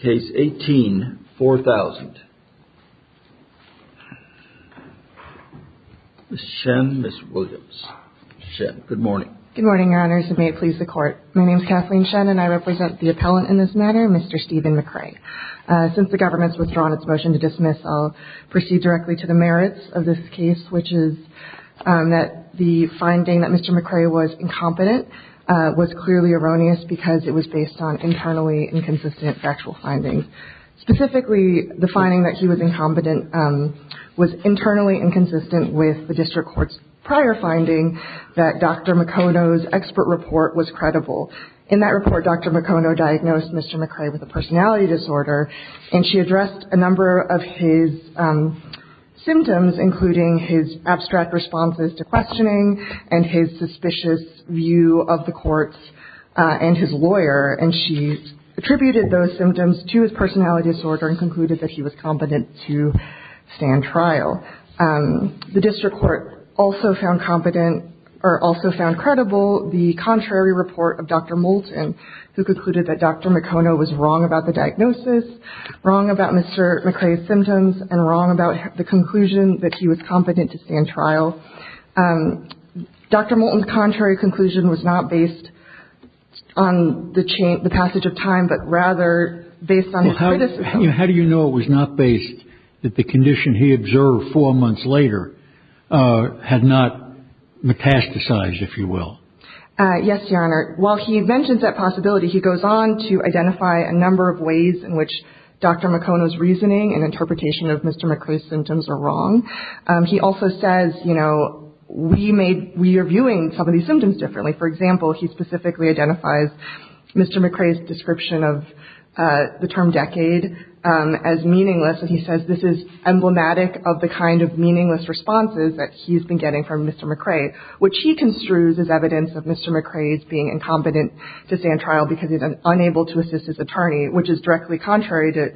case 18-4000. Ms. Shen, Ms. Williams. Ms. Shen, good morning. Good morning, Your Honors, and may it please the Court. My name is Kathleen Shen, and I represent the appellant in this matter, Mr. Stephen McRae. Since the government's withdrawn its motion to dismiss, I'll proceed directly to the merits of this case, which is that the finding that Mr. McRae was incompetent was clearly erroneous because it was based on internally inconsistent factual findings. Specifically, the finding that he was incompetent was internally inconsistent with the district court's prior finding that Dr. McConough's expert report was credible. In that report, Dr. McConough diagnosed Mr. McRae with a personality disorder, and she addressed a number of his symptoms, including his abstract responses to questioning and his suspicious view of the courts and his lawyer, and she attributed those symptoms to his personality disorder and concluded that he was competent to stand trial. The district court also found credible the contrary report of Dr. Moulton, who concluded that Dr. McConough was wrong about the diagnosis, wrong about Mr. McRae's symptoms, and wrong about the conclusion that he was competent to stand trial. Dr. Moulton's contrary conclusion was not based on the passage of time, but rather based on metastasized, if you will. Yes, Your Honor. While he mentions that possibility, he goes on to identify a number of ways in which Dr. McConough's reasoning and interpretation of Mr. McRae's symptoms are wrong. He also says, you know, we are viewing some of these symptoms differently. For example, he specifically identifies Mr. McRae's description of the term decade as meaningless, and he says this is emblematic of the kind of meaningless responses that he's been getting from Mr. McRae, which he construes as evidence of Mr. McRae's being incompetent to stand trial because he's unable to assist his attorney, which is directly contrary to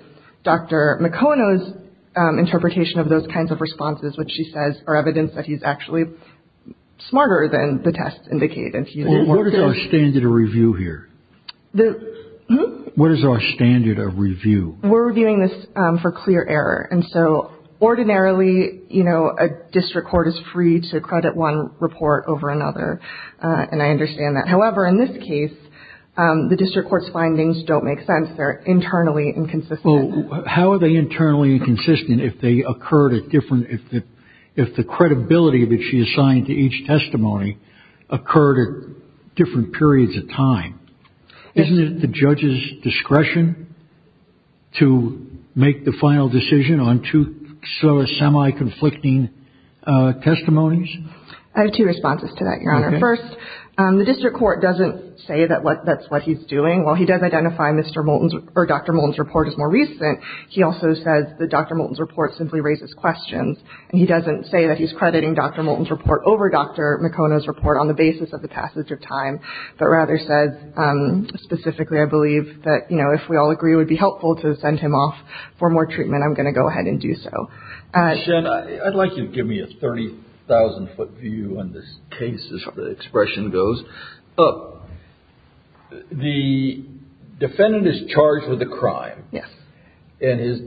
Dr. McConough's interpretation of those kinds of responses, which she says are evidence that he's actually smarter than the tests indicate. What is our standard of review here? What is our standard of review? We're reviewing this for clear error, and so ordinarily, you know, a district court is free to credit one report over another, and I understand that. However, in this case, the district court's findings don't make sense. They're internally inconsistent. Well, how are they internally inconsistent if they occurred at different – if the credibility that she assigned to each testimony occurred at the judge's discretion to make the final decision on two semi-conflicting testimonies? I have two responses to that, Your Honor. Okay. First, the district court doesn't say that that's what he's doing. While he does identify Mr. Moulton's – or Dr. Moulton's report as more recent, he also says that Dr. Moulton's report simply raises questions, and he doesn't say that he's crediting Dr. Moulton's report over Dr. Moulton's report, but rather says, specifically, I believe, that, you know, if we all agree it would be helpful to send him off for more treatment, I'm going to go ahead and do so. Jen, I'd like you to give me a 30,000-foot view on this case, as the expression goes. The defendant is charged with a crime. Yes. And his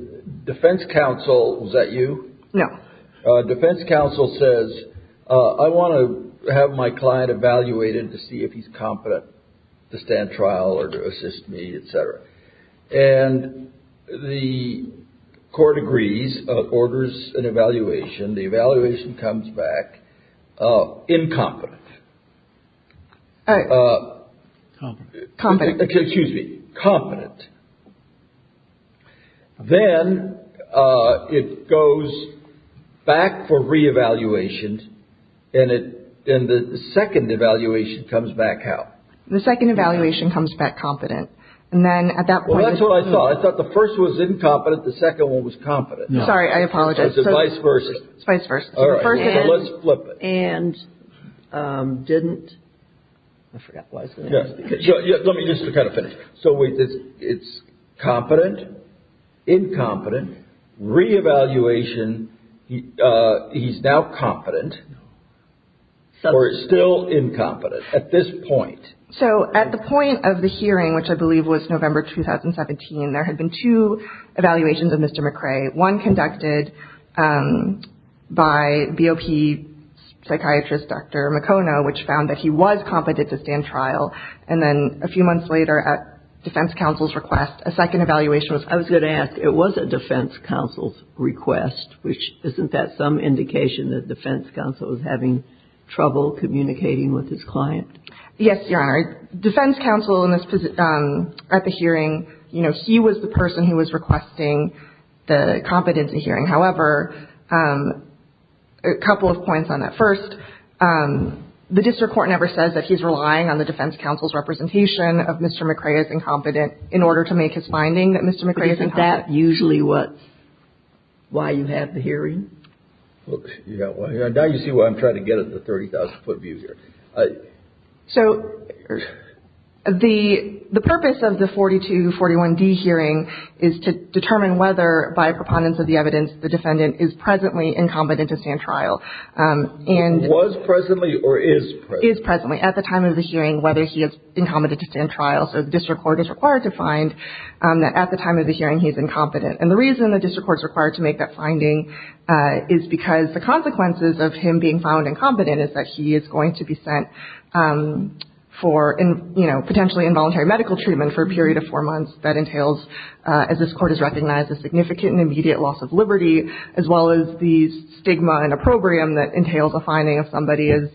defense counsel – was that you? No. Defense counsel says, I want to have my client evaluated to see if he's competent to stand trial or to assist me, et cetera. And the court agrees, orders an evaluation. The evaluation comes back incompetent. Competent. Excuse me. Competent. Then it goes back for reevaluation, and the second evaluation comes back how? The second evaluation comes back competent. And then at that point – Well, that's what I thought. I thought the first one was incompetent, the second one was competent. Sorry, I apologize. So it's vice versa. Vice versa. All right. So let's flip it. And didn't – I forgot what I was going to ask. Let me just kind of finish. So it's competent, incompetent, reevaluation, he's now competent, or is still incompetent at this point? So at the point of the hearing, which I believe was November 2017, there had been two evaluations of Mr. McRae. One conducted by BOP psychiatrist Dr. McConough, which found that he was competent to stand trial. And then a few months later, at defense counsel's request, a second evaluation was – I was going to ask, it was at defense counsel's request, which isn't that some indication that defense counsel was having trouble communicating with his client? Yes, Your Honor. Defense counsel in this – at the hearing, you know, he was the person who was requesting the competence in hearing. However, a couple of points on that. First, the district court never says that he's relying on the defense counsel's representation of Mr. McRae as incompetent in order to make his finding that Mr. McRae is incompetent. But isn't that usually what – why you have the hearing? Now you see why I'm trying to get at the 30,000-foot view here. So the purpose of the 42-41D hearing is to determine whether, by a preponderance of the evidence, the defendant is presently incompetent to stand trial. Was presently or is presently? Is presently. At the time of the hearing, whether he is incompetent to stand trial. So the district court is required to find that at the time of the hearing he's incompetent. And the reason the district court is required to make that finding is because the consequences of him being found incompetent is that he is going to be sent for, you know, potentially involuntary medical treatment for a period of four months. That entails, as this court has recognized, a significant and immediate loss of liberty, as well as the stigma and opprobrium that entails a finding of somebody as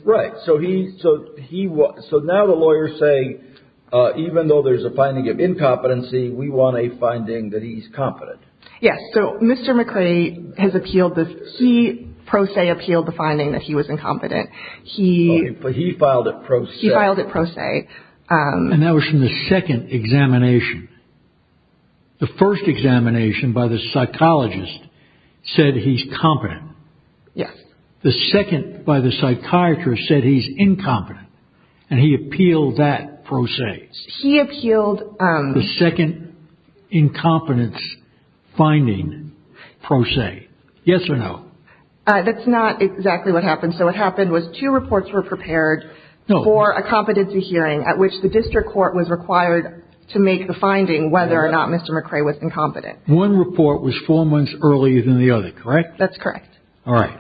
– Yes. So Mr. McRae has appealed the – he pro se appealed the finding that he was incompetent. He – But he filed it pro se. He filed it pro se. And that was from the second examination. The first examination by the psychologist said he's competent. Yes. The second by the psychiatrist said he's incompetent. And he appealed that pro se. He appealed – The second incompetence finding pro se. Yes or no? That's not exactly what happened. So what happened was two reports were prepared for a competency hearing at which the district court was required to make the finding whether or not Mr. McRae was incompetent. One report was four months earlier than the other, correct? That's correct. All right.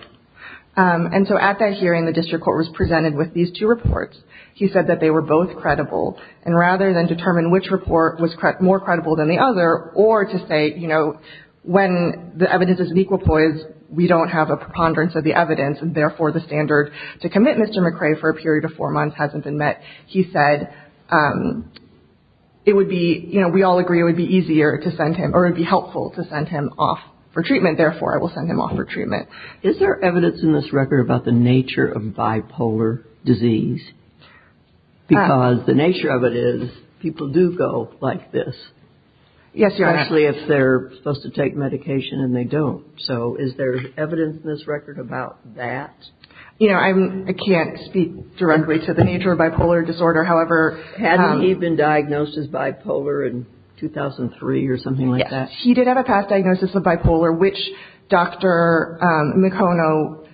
And so at that hearing the district court was presented with these two reports. He said that they were both credible. And rather than determine which report was more credible than the other or to say, you know, when the evidence is in equipoise we don't have a preponderance of the evidence and therefore the standard to commit Mr. McRae for a period of four months hasn't been met, he said it would be – you know, we all agree it would be easier to send him or it would be helpful to send him off for treatment, therefore I will send him off for treatment. Is there evidence in this record about the nature of bipolar disease? Because the nature of it is people do go like this. Yes, Your Honor. Especially if they're supposed to take medication and they don't. So is there evidence in this record about that? You know, I can't speak directly to the nature of bipolar disorder. However – Hadn't he been diagnosed as bipolar in 2003 or something like that? He did have a past diagnosis of bipolar, which Dr. McConnell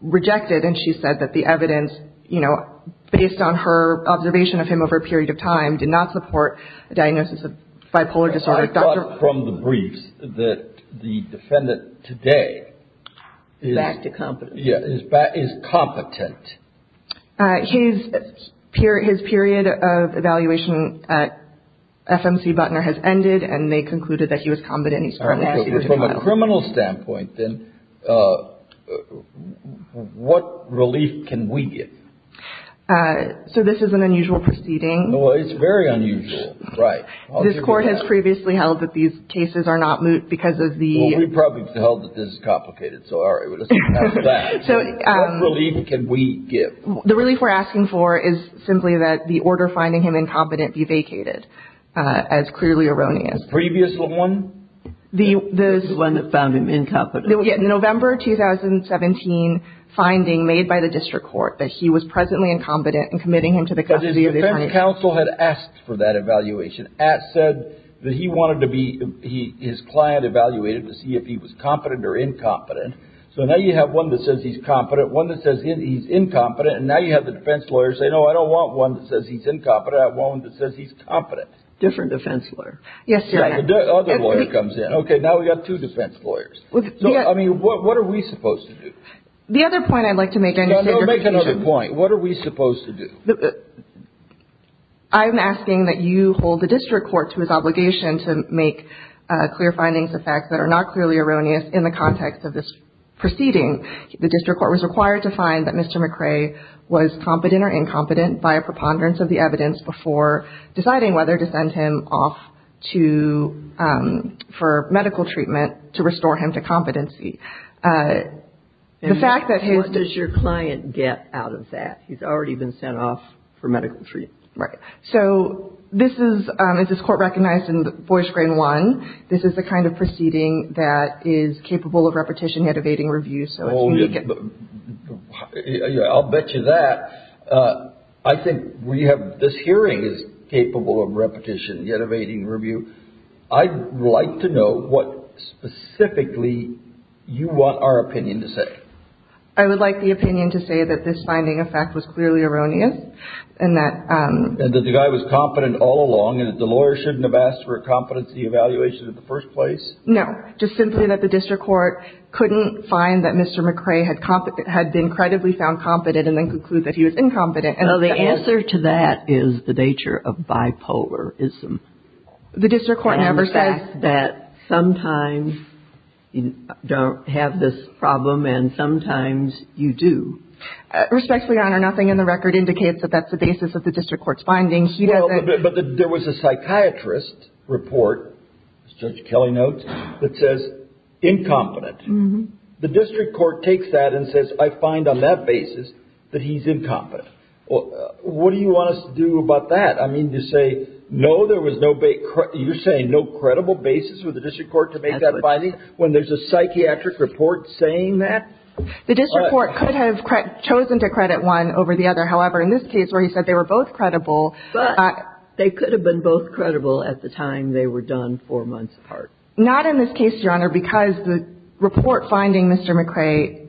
rejected and she said that the evidence, you know, based on her observation of him over a period of time, did not support a diagnosis of bipolar disorder. I thought from the briefs that the defendant today is – Back to competence. Yeah, is competent. His period of evaluation at FMC Butner has ended and they concluded that he was competent. Okay, so from a criminal standpoint then, what relief can we get? So this is an unusual proceeding. Well, it's very unusual, right. This Court has previously held that these cases are not moot because of the – Well, we probably felt that this is complicated, so all right, let's pass that. What relief can we give? The relief we're asking for is simply that the order finding him incompetent be vacated, as clearly erroneous. The previous one? The one that found him incompetent. Yeah, November 2017 finding made by the District Court that he was presently incompetent and committing him to the custody of the attorney. But his defense counsel had asked for that evaluation. At said that he wanted to be – his client evaluated to see if he was competent or incompetent. So now you have one that says he's competent, one that says he's incompetent, and now you have the defense lawyers say, no, I don't want one that says he's incompetent, I want one that says he's competent. Different defense lawyer. Yes, Your Honor. The other lawyer comes in. Okay, now we've got two defense lawyers. I mean, what are we supposed to do? The other point I'd like to make – No, make another point. What are we supposed to do? I'm asking that you hold the District Court to its obligation to make clear findings of facts that are not clearly erroneous in the context of this proceeding. The District Court was required to find that Mr. McRae was competent or incompetent by a preponderance of the evidence before deciding whether to send him off to – for medical treatment to restore him to competency. The fact that his – And what does your client get out of that? He's already been sent off for medical treatment. Right. So this is – this is court-recognized in Boyce-Grayne 1. This is the kind of proceeding that is capable of repetition yet evading review. I'll bet you that. I think we have – this hearing is capable of repetition yet evading review. I'd like to know what specifically you want our opinion to say. I would like the opinion to say that this finding of fact was clearly erroneous and that – And that the guy was competent all along and that the lawyer shouldn't have asked for a competency evaluation in the first place? No. Just simply that the District Court couldn't find that Mr. McRae had been credibly found competent and then conclude that he was incompetent. Well, the answer to that is the nature of bipolarism. The District Court never says that. And that sometimes you don't have this problem and sometimes you do. Respectfully, Your Honor, nothing in the record indicates that that's the basis of the District Court's findings. But there was a psychiatrist report, as Judge Kelly notes, that says incompetent. The District Court takes that and says, I find on that basis that he's incompetent. What do you want us to do about that? I mean, to say, no, there was no – you're saying no credible basis for the District Court to make that finding when there's a psychiatric report saying that? The District Court could have chosen to credit one over the other. However, in this case where he said they were both credible – But they could have been both credible at the time they were done four months apart. Not in this case, Your Honor, because the report finding Mr. McRae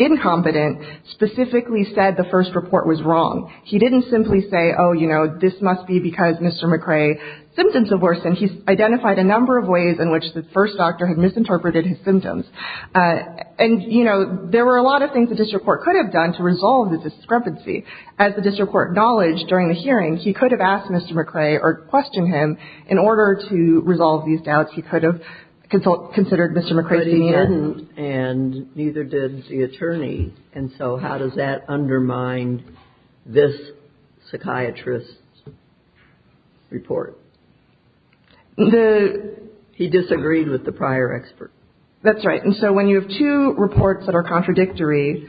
incompetent specifically said the first report was wrong. He didn't simply say, oh, you know, this must be because Mr. McRae's symptoms have worsened. He identified a number of ways in which the first doctor had misinterpreted his symptoms. And, you know, there were a lot of things the District Court could have done to resolve the discrepancy. As the District Court acknowledged during the hearing, he could have asked Mr. McRae or questioned him. In order to resolve these doubts, he could have considered Mr. McRae's demeanor. But he didn't, and neither did the attorney. And so how does that undermine this psychiatrist's report? He disagreed with the prior expert. That's right. And so when you have two reports that are contradictory,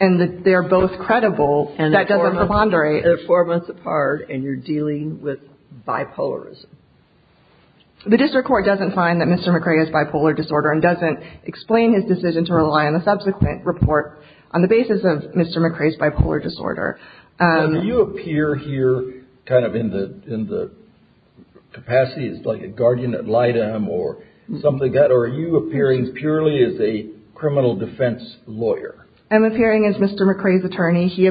and they're both credible, that doesn't preponderate. And they're four months apart, and you're dealing with bipolarism. The District Court doesn't find that Mr. McRae has bipolar disorder and doesn't explain his decision to rely on the subsequent report on the basis of Mr. McRae's bipolar disorder. Now, do you appear here kind of in the capacity as like a guardian ad litem or something like that? Or are you appearing purely as a criminal defense lawyer? I'm appearing as Mr. McRae's attorney. He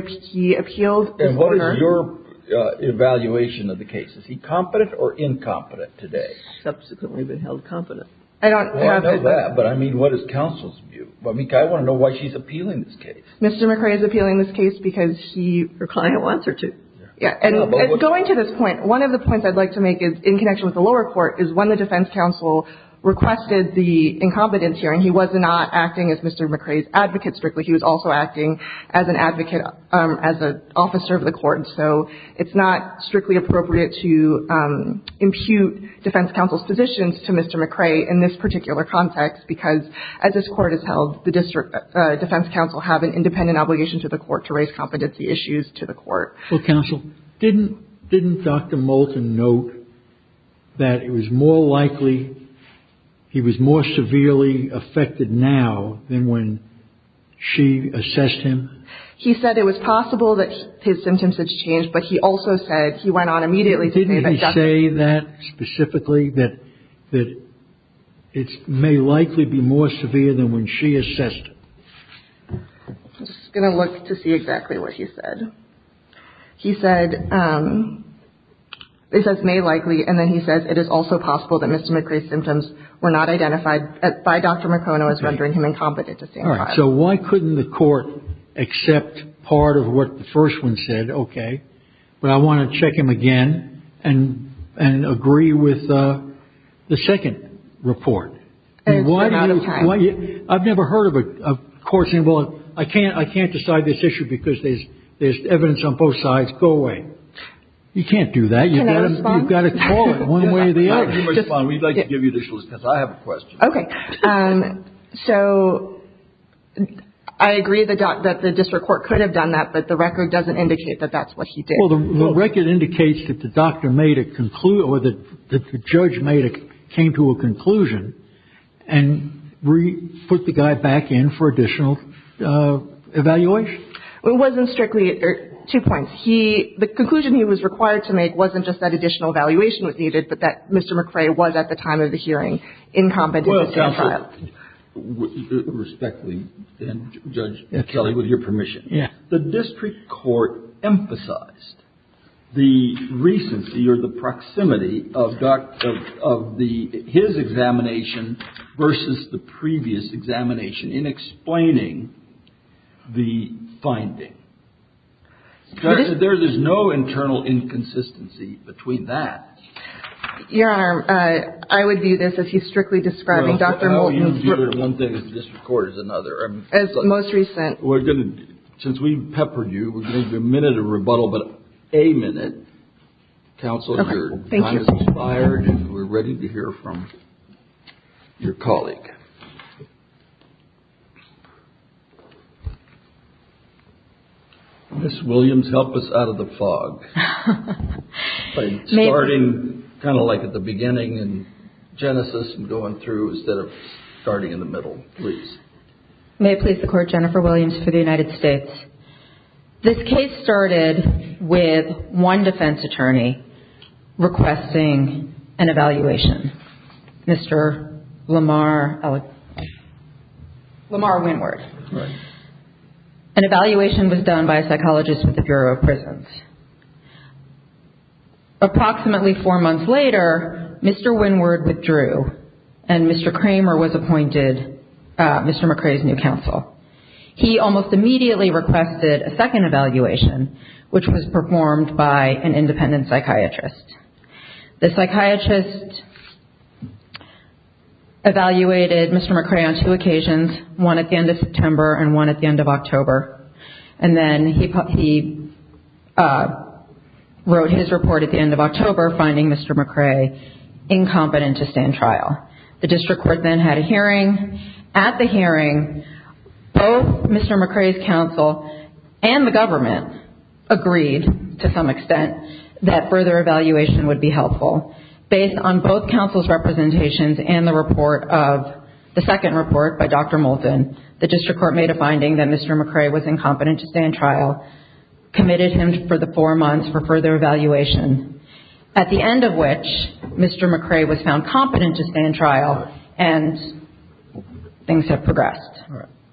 appealed. And what is your evaluation of the case? Is he competent or incompetent today? Subsequently been held competent. Well, I know that. But, I mean, what is counsel's view? I want to know why she's appealing this case. Mr. McRae is appealing this case because he or her client wants her to. And going to this point, one of the points I'd like to make in connection with the lower court is when the defense counsel requested the incompetence hearing, he was not acting as Mr. McRae's advocate strictly. He was also acting as an advocate, as an officer of the court. So it's not strictly appropriate to impute defense counsel's positions to Mr. McRae in this particular context because, as this court has held, the defense counsel have an independent obligation to the court to raise competency issues to the court. Well, counsel, didn't Dr. Moulton note that it was more likely he was more severely affected now than when she assessed him? He said it was possible that his symptoms had changed, but he also said he went on immediately to say that specifically, that it may likely be more severe than when she assessed him. I'm just going to look to see exactly what he said. He said, it says may likely, and then he says it is also possible that Mr. McRae's symptoms were not identified by Dr. McConough as rendering him incompetent to stand trial. All right, so why couldn't the court accept part of what the first one said, okay, but I want to check him again and agree with the second report. I've never heard of a court saying, well, I can't decide this issue because there's evidence on both sides. Go away. You can't do that. You've got to call it one way or the other. You may respond. We'd like to give you additional assistance. I have a question. Okay, so I agree that the district court could have done that, but the record doesn't indicate that that's what he did. Well, the record indicates that the doctor made a conclusion, or that the judge came to a conclusion and put the guy back in for additional evaluation. It wasn't strictly, two points. The conclusion he was required to make wasn't just that additional evaluation was needed, but that Mr. McRae was, at the time of the hearing, incompetent to stand trial. Respectfully, then, Judge Kelly, with your permission. Yes. The district court emphasized the recency or the proximity of his examination versus the previous examination in explaining the finding. There is no internal inconsistency between that. Your Honor, I would view this as he's strictly describing Dr. Moulton. One thing is the district court is another. As most recent. We're going to, since we've peppered you, we're going to do a minute of rebuttal, but a minute. Counsel, your time has expired and we're ready to hear from your colleague. Ms. Williams, help us out of the fog. By starting kind of like at the beginning in Genesis and going through instead of starting in the middle. Please. May it please the Court, Jennifer Williams for the United States. This case started with one defense attorney requesting an evaluation. Mr. Lamar Winward. An evaluation was done by a psychologist with the Bureau of Prisons. Approximately four months later, Mr. Winward withdrew and Mr. Kramer was appointed Mr. McCrae's new counsel. He almost immediately requested a second evaluation, which was performed by an independent psychiatrist. The psychiatrist evaluated Mr. McCrae on two occasions. One at the end of September and one at the end of October. And then he wrote his report at the end of October, finding Mr. McCrae incompetent to stand trial. The district court then had a hearing. At the hearing, both Mr. McCrae's counsel and the government agreed to some extent that further evaluation would be helpful. Based on both counsel's representations and the report of the second report by Dr. Moulton, the district court made a finding that Mr. McCrae was incompetent to stand trial, committed him for the four months for further evaluation. At the end of which, Mr. McCrae was found competent to stand trial and things have progressed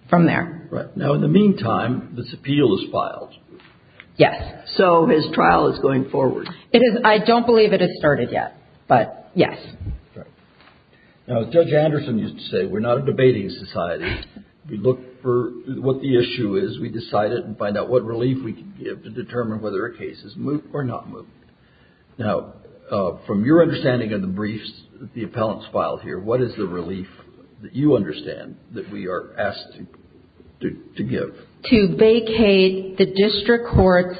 from there. Right. Now, in the meantime, this appeal is filed. Yes. So his trial is going forward. I don't believe it has started yet, but yes. Right. Now, as Judge Anderson used to say, we're not a debating society. We look for what the issue is. We decide it and find out what relief we can give to determine whether a case is moved or not moved. Now, from your understanding of the briefs that the appellants filed here, what is the relief that you understand that we are asked to give? To vacate the district court's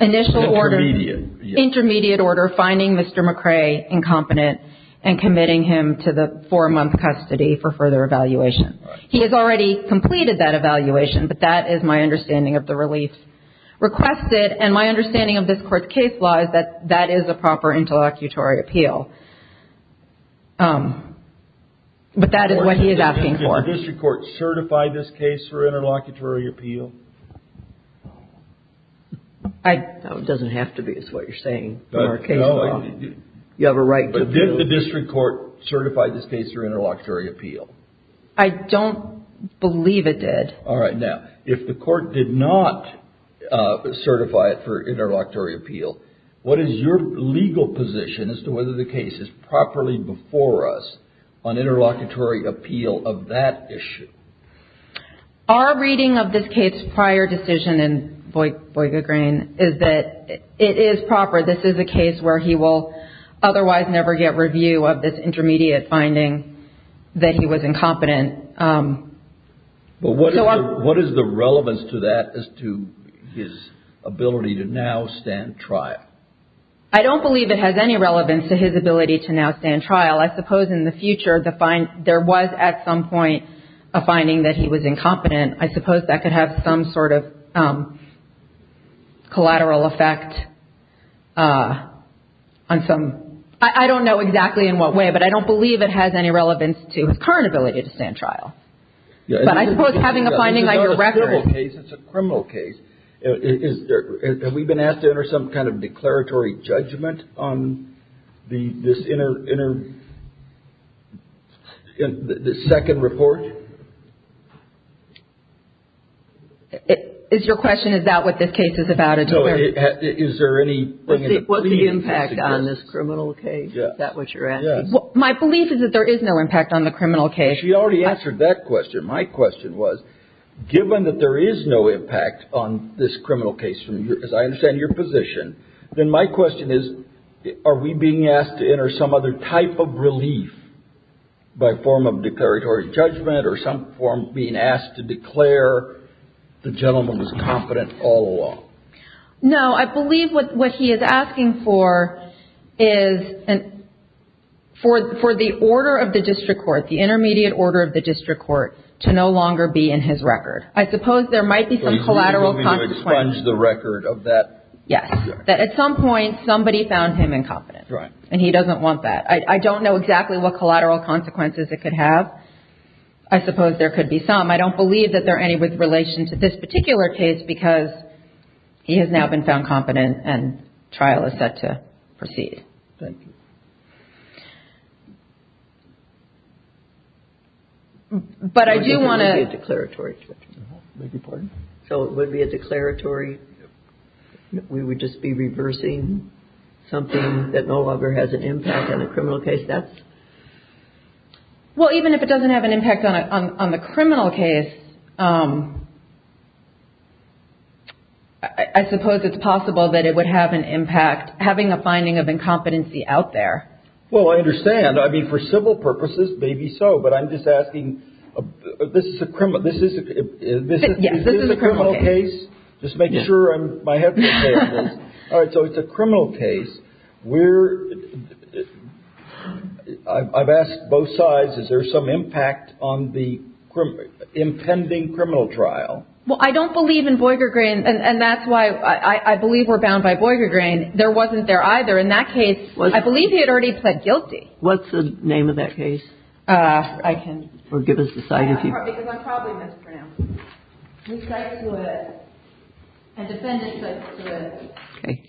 initial order. Intermediate. Intermediate order finding Mr. McCrae incompetent and committing him to the four-month custody for further evaluation. Right. He has already completed that evaluation, but that is my understanding of the relief requested. And my understanding of this court's case law is that that is a proper interlocutory appeal. But that is what he is asking for. Did the district court certify this case for interlocutory appeal? It doesn't have to be. It's what you're saying. You have a right to appeal. But did the district court certify this case for interlocutory appeal? I don't believe it did. All right. Now, if the court did not certify it for interlocutory appeal, what is your legal position as to whether the case is properly before us on interlocutory appeal of that issue? Our reading of this case prior decision in Voigt-Gegrain is that it is proper. This is a case where he will otherwise never get review of this intermediate finding that he was incompetent. But what is the relevance to that as to his ability to now stand trial? I don't believe it has any relevance to his ability to now stand trial. I suppose in the future there was at some point a finding that he was incompetent. I suppose that could have some sort of collateral effect on some – I don't know exactly in what way, but I don't believe it has any relevance to his current ability to stand trial. But I suppose having a finding like a record. It's a criminal case. Have we been asked to enter some kind of declaratory judgment on this second report? Is your question, is that what this case is about? No. Is there any – What's the impact on this criminal case? Is that what you're asking? Yes. My belief is that there is no impact on the criminal case. But you already answered that question. My question was, given that there is no impact on this criminal case, as I understand your position, then my question is, are we being asked to enter some other type of relief by form of declaratory judgment or some form of being asked to declare the gentleman was incompetent all along? No. I believe what he is asking for is for the order of the district court, the intermediate order of the district court, to no longer be in his record. I suppose there might be some collateral consequences. So he's moving to expunge the record of that? Yes. That at some point, somebody found him incompetent. Right. And he doesn't want that. I don't know exactly what collateral consequences it could have. I suppose there could be some. I don't believe that there are any with relation to this particular case because he has now been found competent and trial is set to proceed. Thank you. But I do want to – It would be a declaratory judgment. I beg your pardon? So it would be a declaratory – we would just be reversing something that no longer has an impact on the criminal case? Well, even if it doesn't have an impact on the criminal case, I suppose it's possible that it would have an impact having a finding of incompetency out there. Well, I understand. I mean, for civil purposes, maybe so. But I'm just asking – this is a criminal case? Yes, this is a criminal case. Just making sure my head is okay on this. All right. So it's a criminal case. We're – I've asked both sides, is there some impact on the impending criminal trial? Well, I don't believe in Boyger Green, and that's why I believe we're bound by Boyger Green. There wasn't there either. In that case, I believe he had already pled guilty. What's the name of that case? I can – Or give us the site if you – Because I'm probably mispronouncing it. We cite to it – a defendant cites to it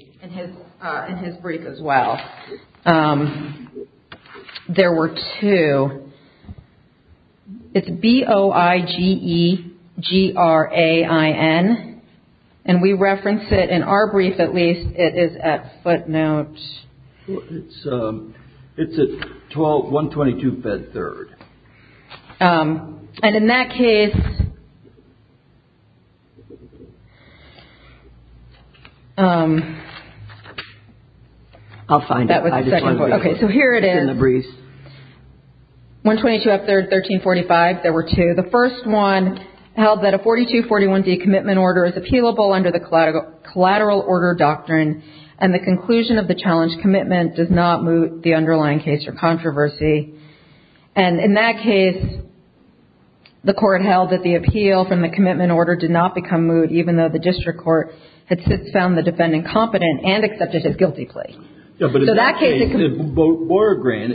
in his brief as well. There were two. It's B-O-I-G-E-G-R-A-I-N, and we reference it in our brief at least. It is at footnote – It's at 12 – 122 Bed 3rd. And in that case – I'll find it. That was the second part. Okay. So here it is. It's in the brief. 122 Up 3rd, 1345. There were two. The first one held that a 4241D commitment order is appealable under the collateral order doctrine, and the conclusion of the challenge commitment does not moot the underlying case or controversy. And in that case, the court held that the appeal from the commitment order did not become moot, even though the district court had since found the defendant competent and accepted his guilty plea. Yeah, but in that case – So that case – Boregrain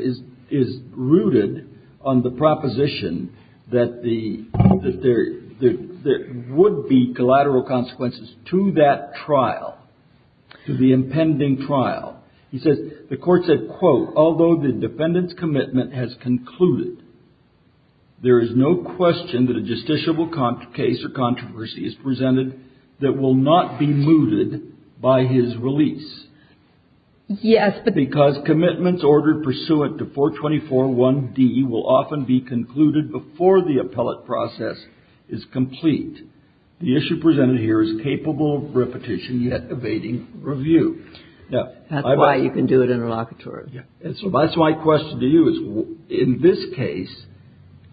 is rooted on the proposition that there would be collateral consequences to that trial, to the impending trial. He says the court said, quote, although the defendant's commitment has concluded, there is no question that a justiciable case or controversy is presented that will not be mooted by his release. Yes, but – Because commitments ordered pursuant to 4241D will often be concluded before the appellate process is complete. The issue presented here is capable of repetition, yet evading review. That's why you can do it interlocutory. That's my question to you is, in this case,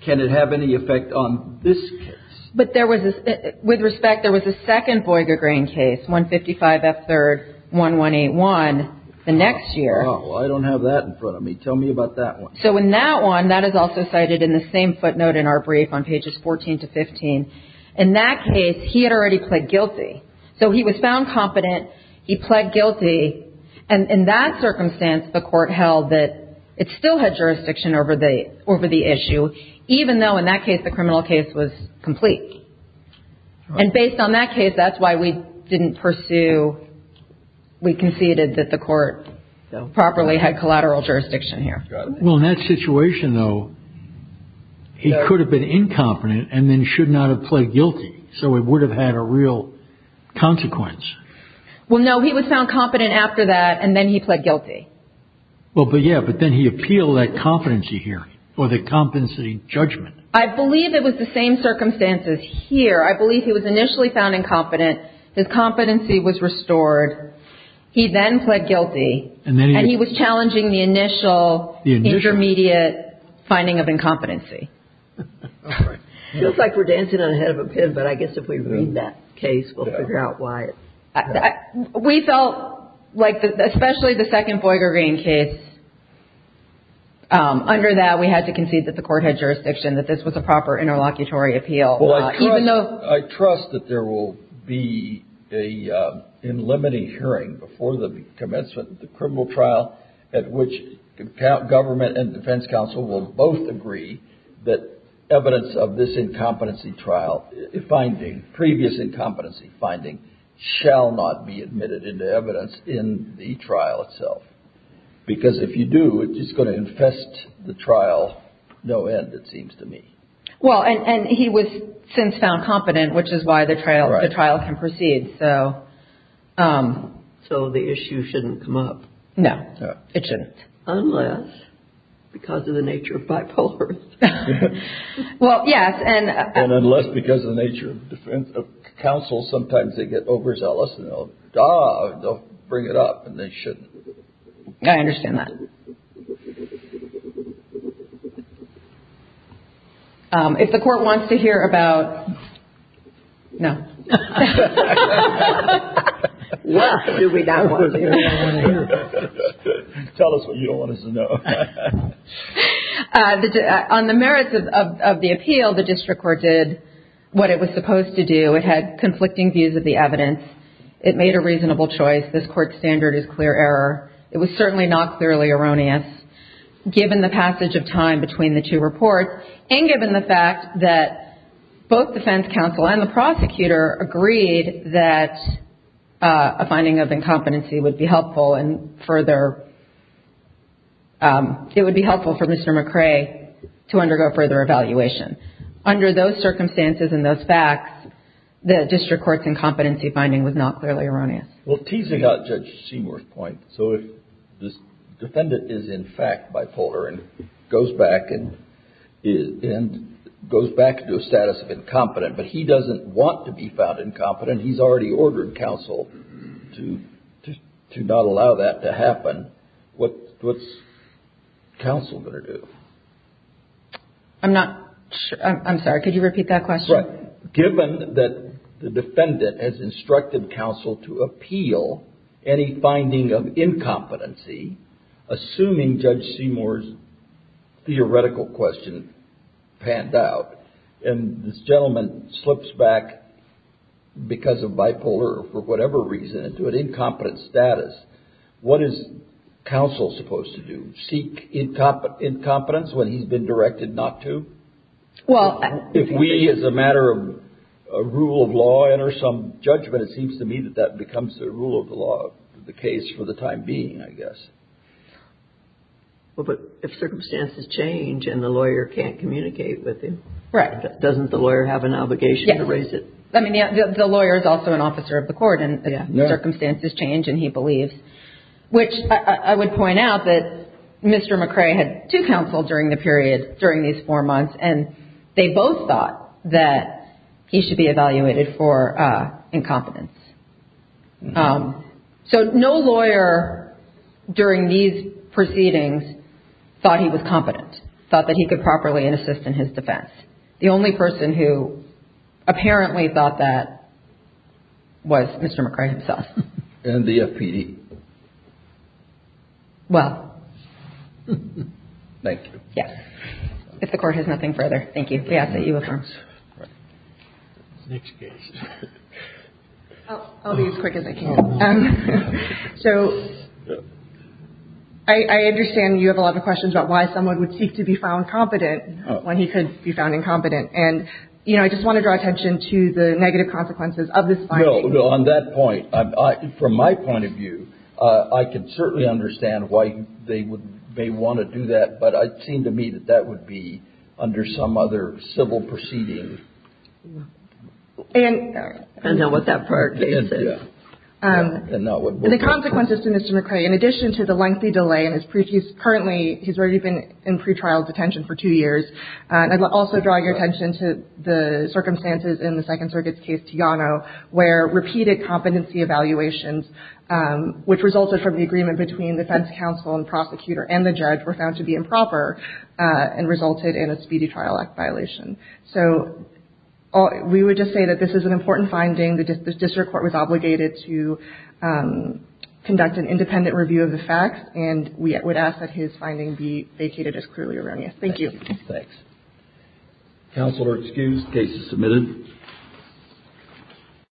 can it have any effect on this case? But there was – with respect, there was a second Boregrain case, 155F3-1181, the next year. I don't have that in front of me. Tell me about that one. So in that one, that is also cited in the same footnote in our brief on pages 14 to 15. In that case, he had already pled guilty. So he was found competent. He pled guilty. And in that circumstance, the court held that it still had jurisdiction over the issue, even though in that case the criminal case was complete. And based on that case, that's why we didn't pursue – we conceded that the court properly had collateral jurisdiction here. Well, in that situation, though, he could have been incompetent and then should not have pled guilty. So it would have had a real consequence. Well, no. He was found competent after that, and then he pled guilty. Well, but yeah, but then he appealed that competency hearing or the competency judgment. I believe it was the same circumstances here. I believe he was initially found incompetent. His competency was restored. He then pled guilty. And he was challenging the initial intermediate finding of incompetency. All right. It feels like we're dancing on the head of a pin, but I guess if we read that case, we'll figure out why. We felt like, especially the second Boyger Green case, under that we had to concede that the court had jurisdiction, that this was a proper interlocutory appeal. Well, I trust that there will be an in-limiting hearing before the commencement of the criminal trial at which government and defense counsel will both agree that evidence of this incompetency trial finding, previous incompetency finding, shall not be admitted into evidence in the trial itself. Because if you do, it's just going to infest the trial no end, it seems to me. Well, and he was since found competent, which is why the trial can proceed. So the issue shouldn't come up. No. It shouldn't. Unless, because of the nature of bipolars. Well, yes. And unless because of the nature of counsel, sometimes they get overzealous and they'll bring it up and they shouldn't. I understand that. If the court wants to hear about. No. What do we not want to hear? Tell us what you don't want us to know. On the merits of the appeal, the district court did what it was supposed to do. It had conflicting views of the evidence. It made a reasonable choice. This court's standard is clear error. It was certainly not clearly erroneous. Given the passage of time between the two reports, and given the fact that both defense counsel and the prosecutor agreed that a finding of incompetency would be helpful and further, it would be helpful for Mr. McCrae to undergo further evaluation. Under those circumstances and those facts, the district court's incompetency finding was not clearly erroneous. Well, teasing out Judge Seymour's point, so if this defendant is in fact bipolar and goes back and goes back to a status of incompetent, but he doesn't want to be found incompetent, he's already ordered counsel to not allow that to happen, what's counsel going to do? I'm not sure. I'm sorry. Could you repeat that question? Given that the defendant has instructed counsel to appeal any finding of incompetency, assuming Judge Seymour's theoretical question panned out, and this gentleman slips back because of bipolar or for whatever reason into an incompetent status, what is counsel supposed to do? Seek incompetence when he's been directed not to? If we, as a matter of rule of law, enter some judgment, it seems to me that that becomes the rule of the law, the case for the time being, I guess. Well, but if circumstances change and the lawyer can't communicate with him, doesn't the lawyer have an obligation to raise it? The lawyer is also an officer of the court, and circumstances change and he believes, which I would point out that Mr. McCrae had two counsel during the period, during these four months, and they both thought that he should be evaluated for incompetence. So no lawyer during these proceedings thought he was competent, thought that he could properly assist in his defense. The only person who apparently thought that was Mr. McCrae himself. And the FPD? Well. Thank you. Yes. If the Court has nothing further, thank you. We ask that you affirm. Next case. I'll be as quick as I can. So I understand you have a lot of questions about why someone would seek to be found competent when he could be found incompetent. And, you know, I just want to draw attention to the negative consequences of this finding. No, no. On that point, from my point of view, I can certainly understand why they may want to do that, but it seemed to me that that would be under some other civil proceeding. And the consequences to Mr. McCrae, in addition to the lengthy delay in his brief, he's currently, he's already been in pretrial detention for two years. And I'd also draw your attention to the circumstances in the Second Circuit's case to Yano, where repeated competency evaluations, which resulted from the agreement between defense counsel and prosecutor and the judge, were found to be improper and resulted in a speedy trial act violation. So we would just say that this is an important finding. The district court was obligated to conduct an independent review of the facts, and we would ask that his finding be vacated as clearly erroneous. Thank you. Thanks. Counsel are excused. Case is submitted.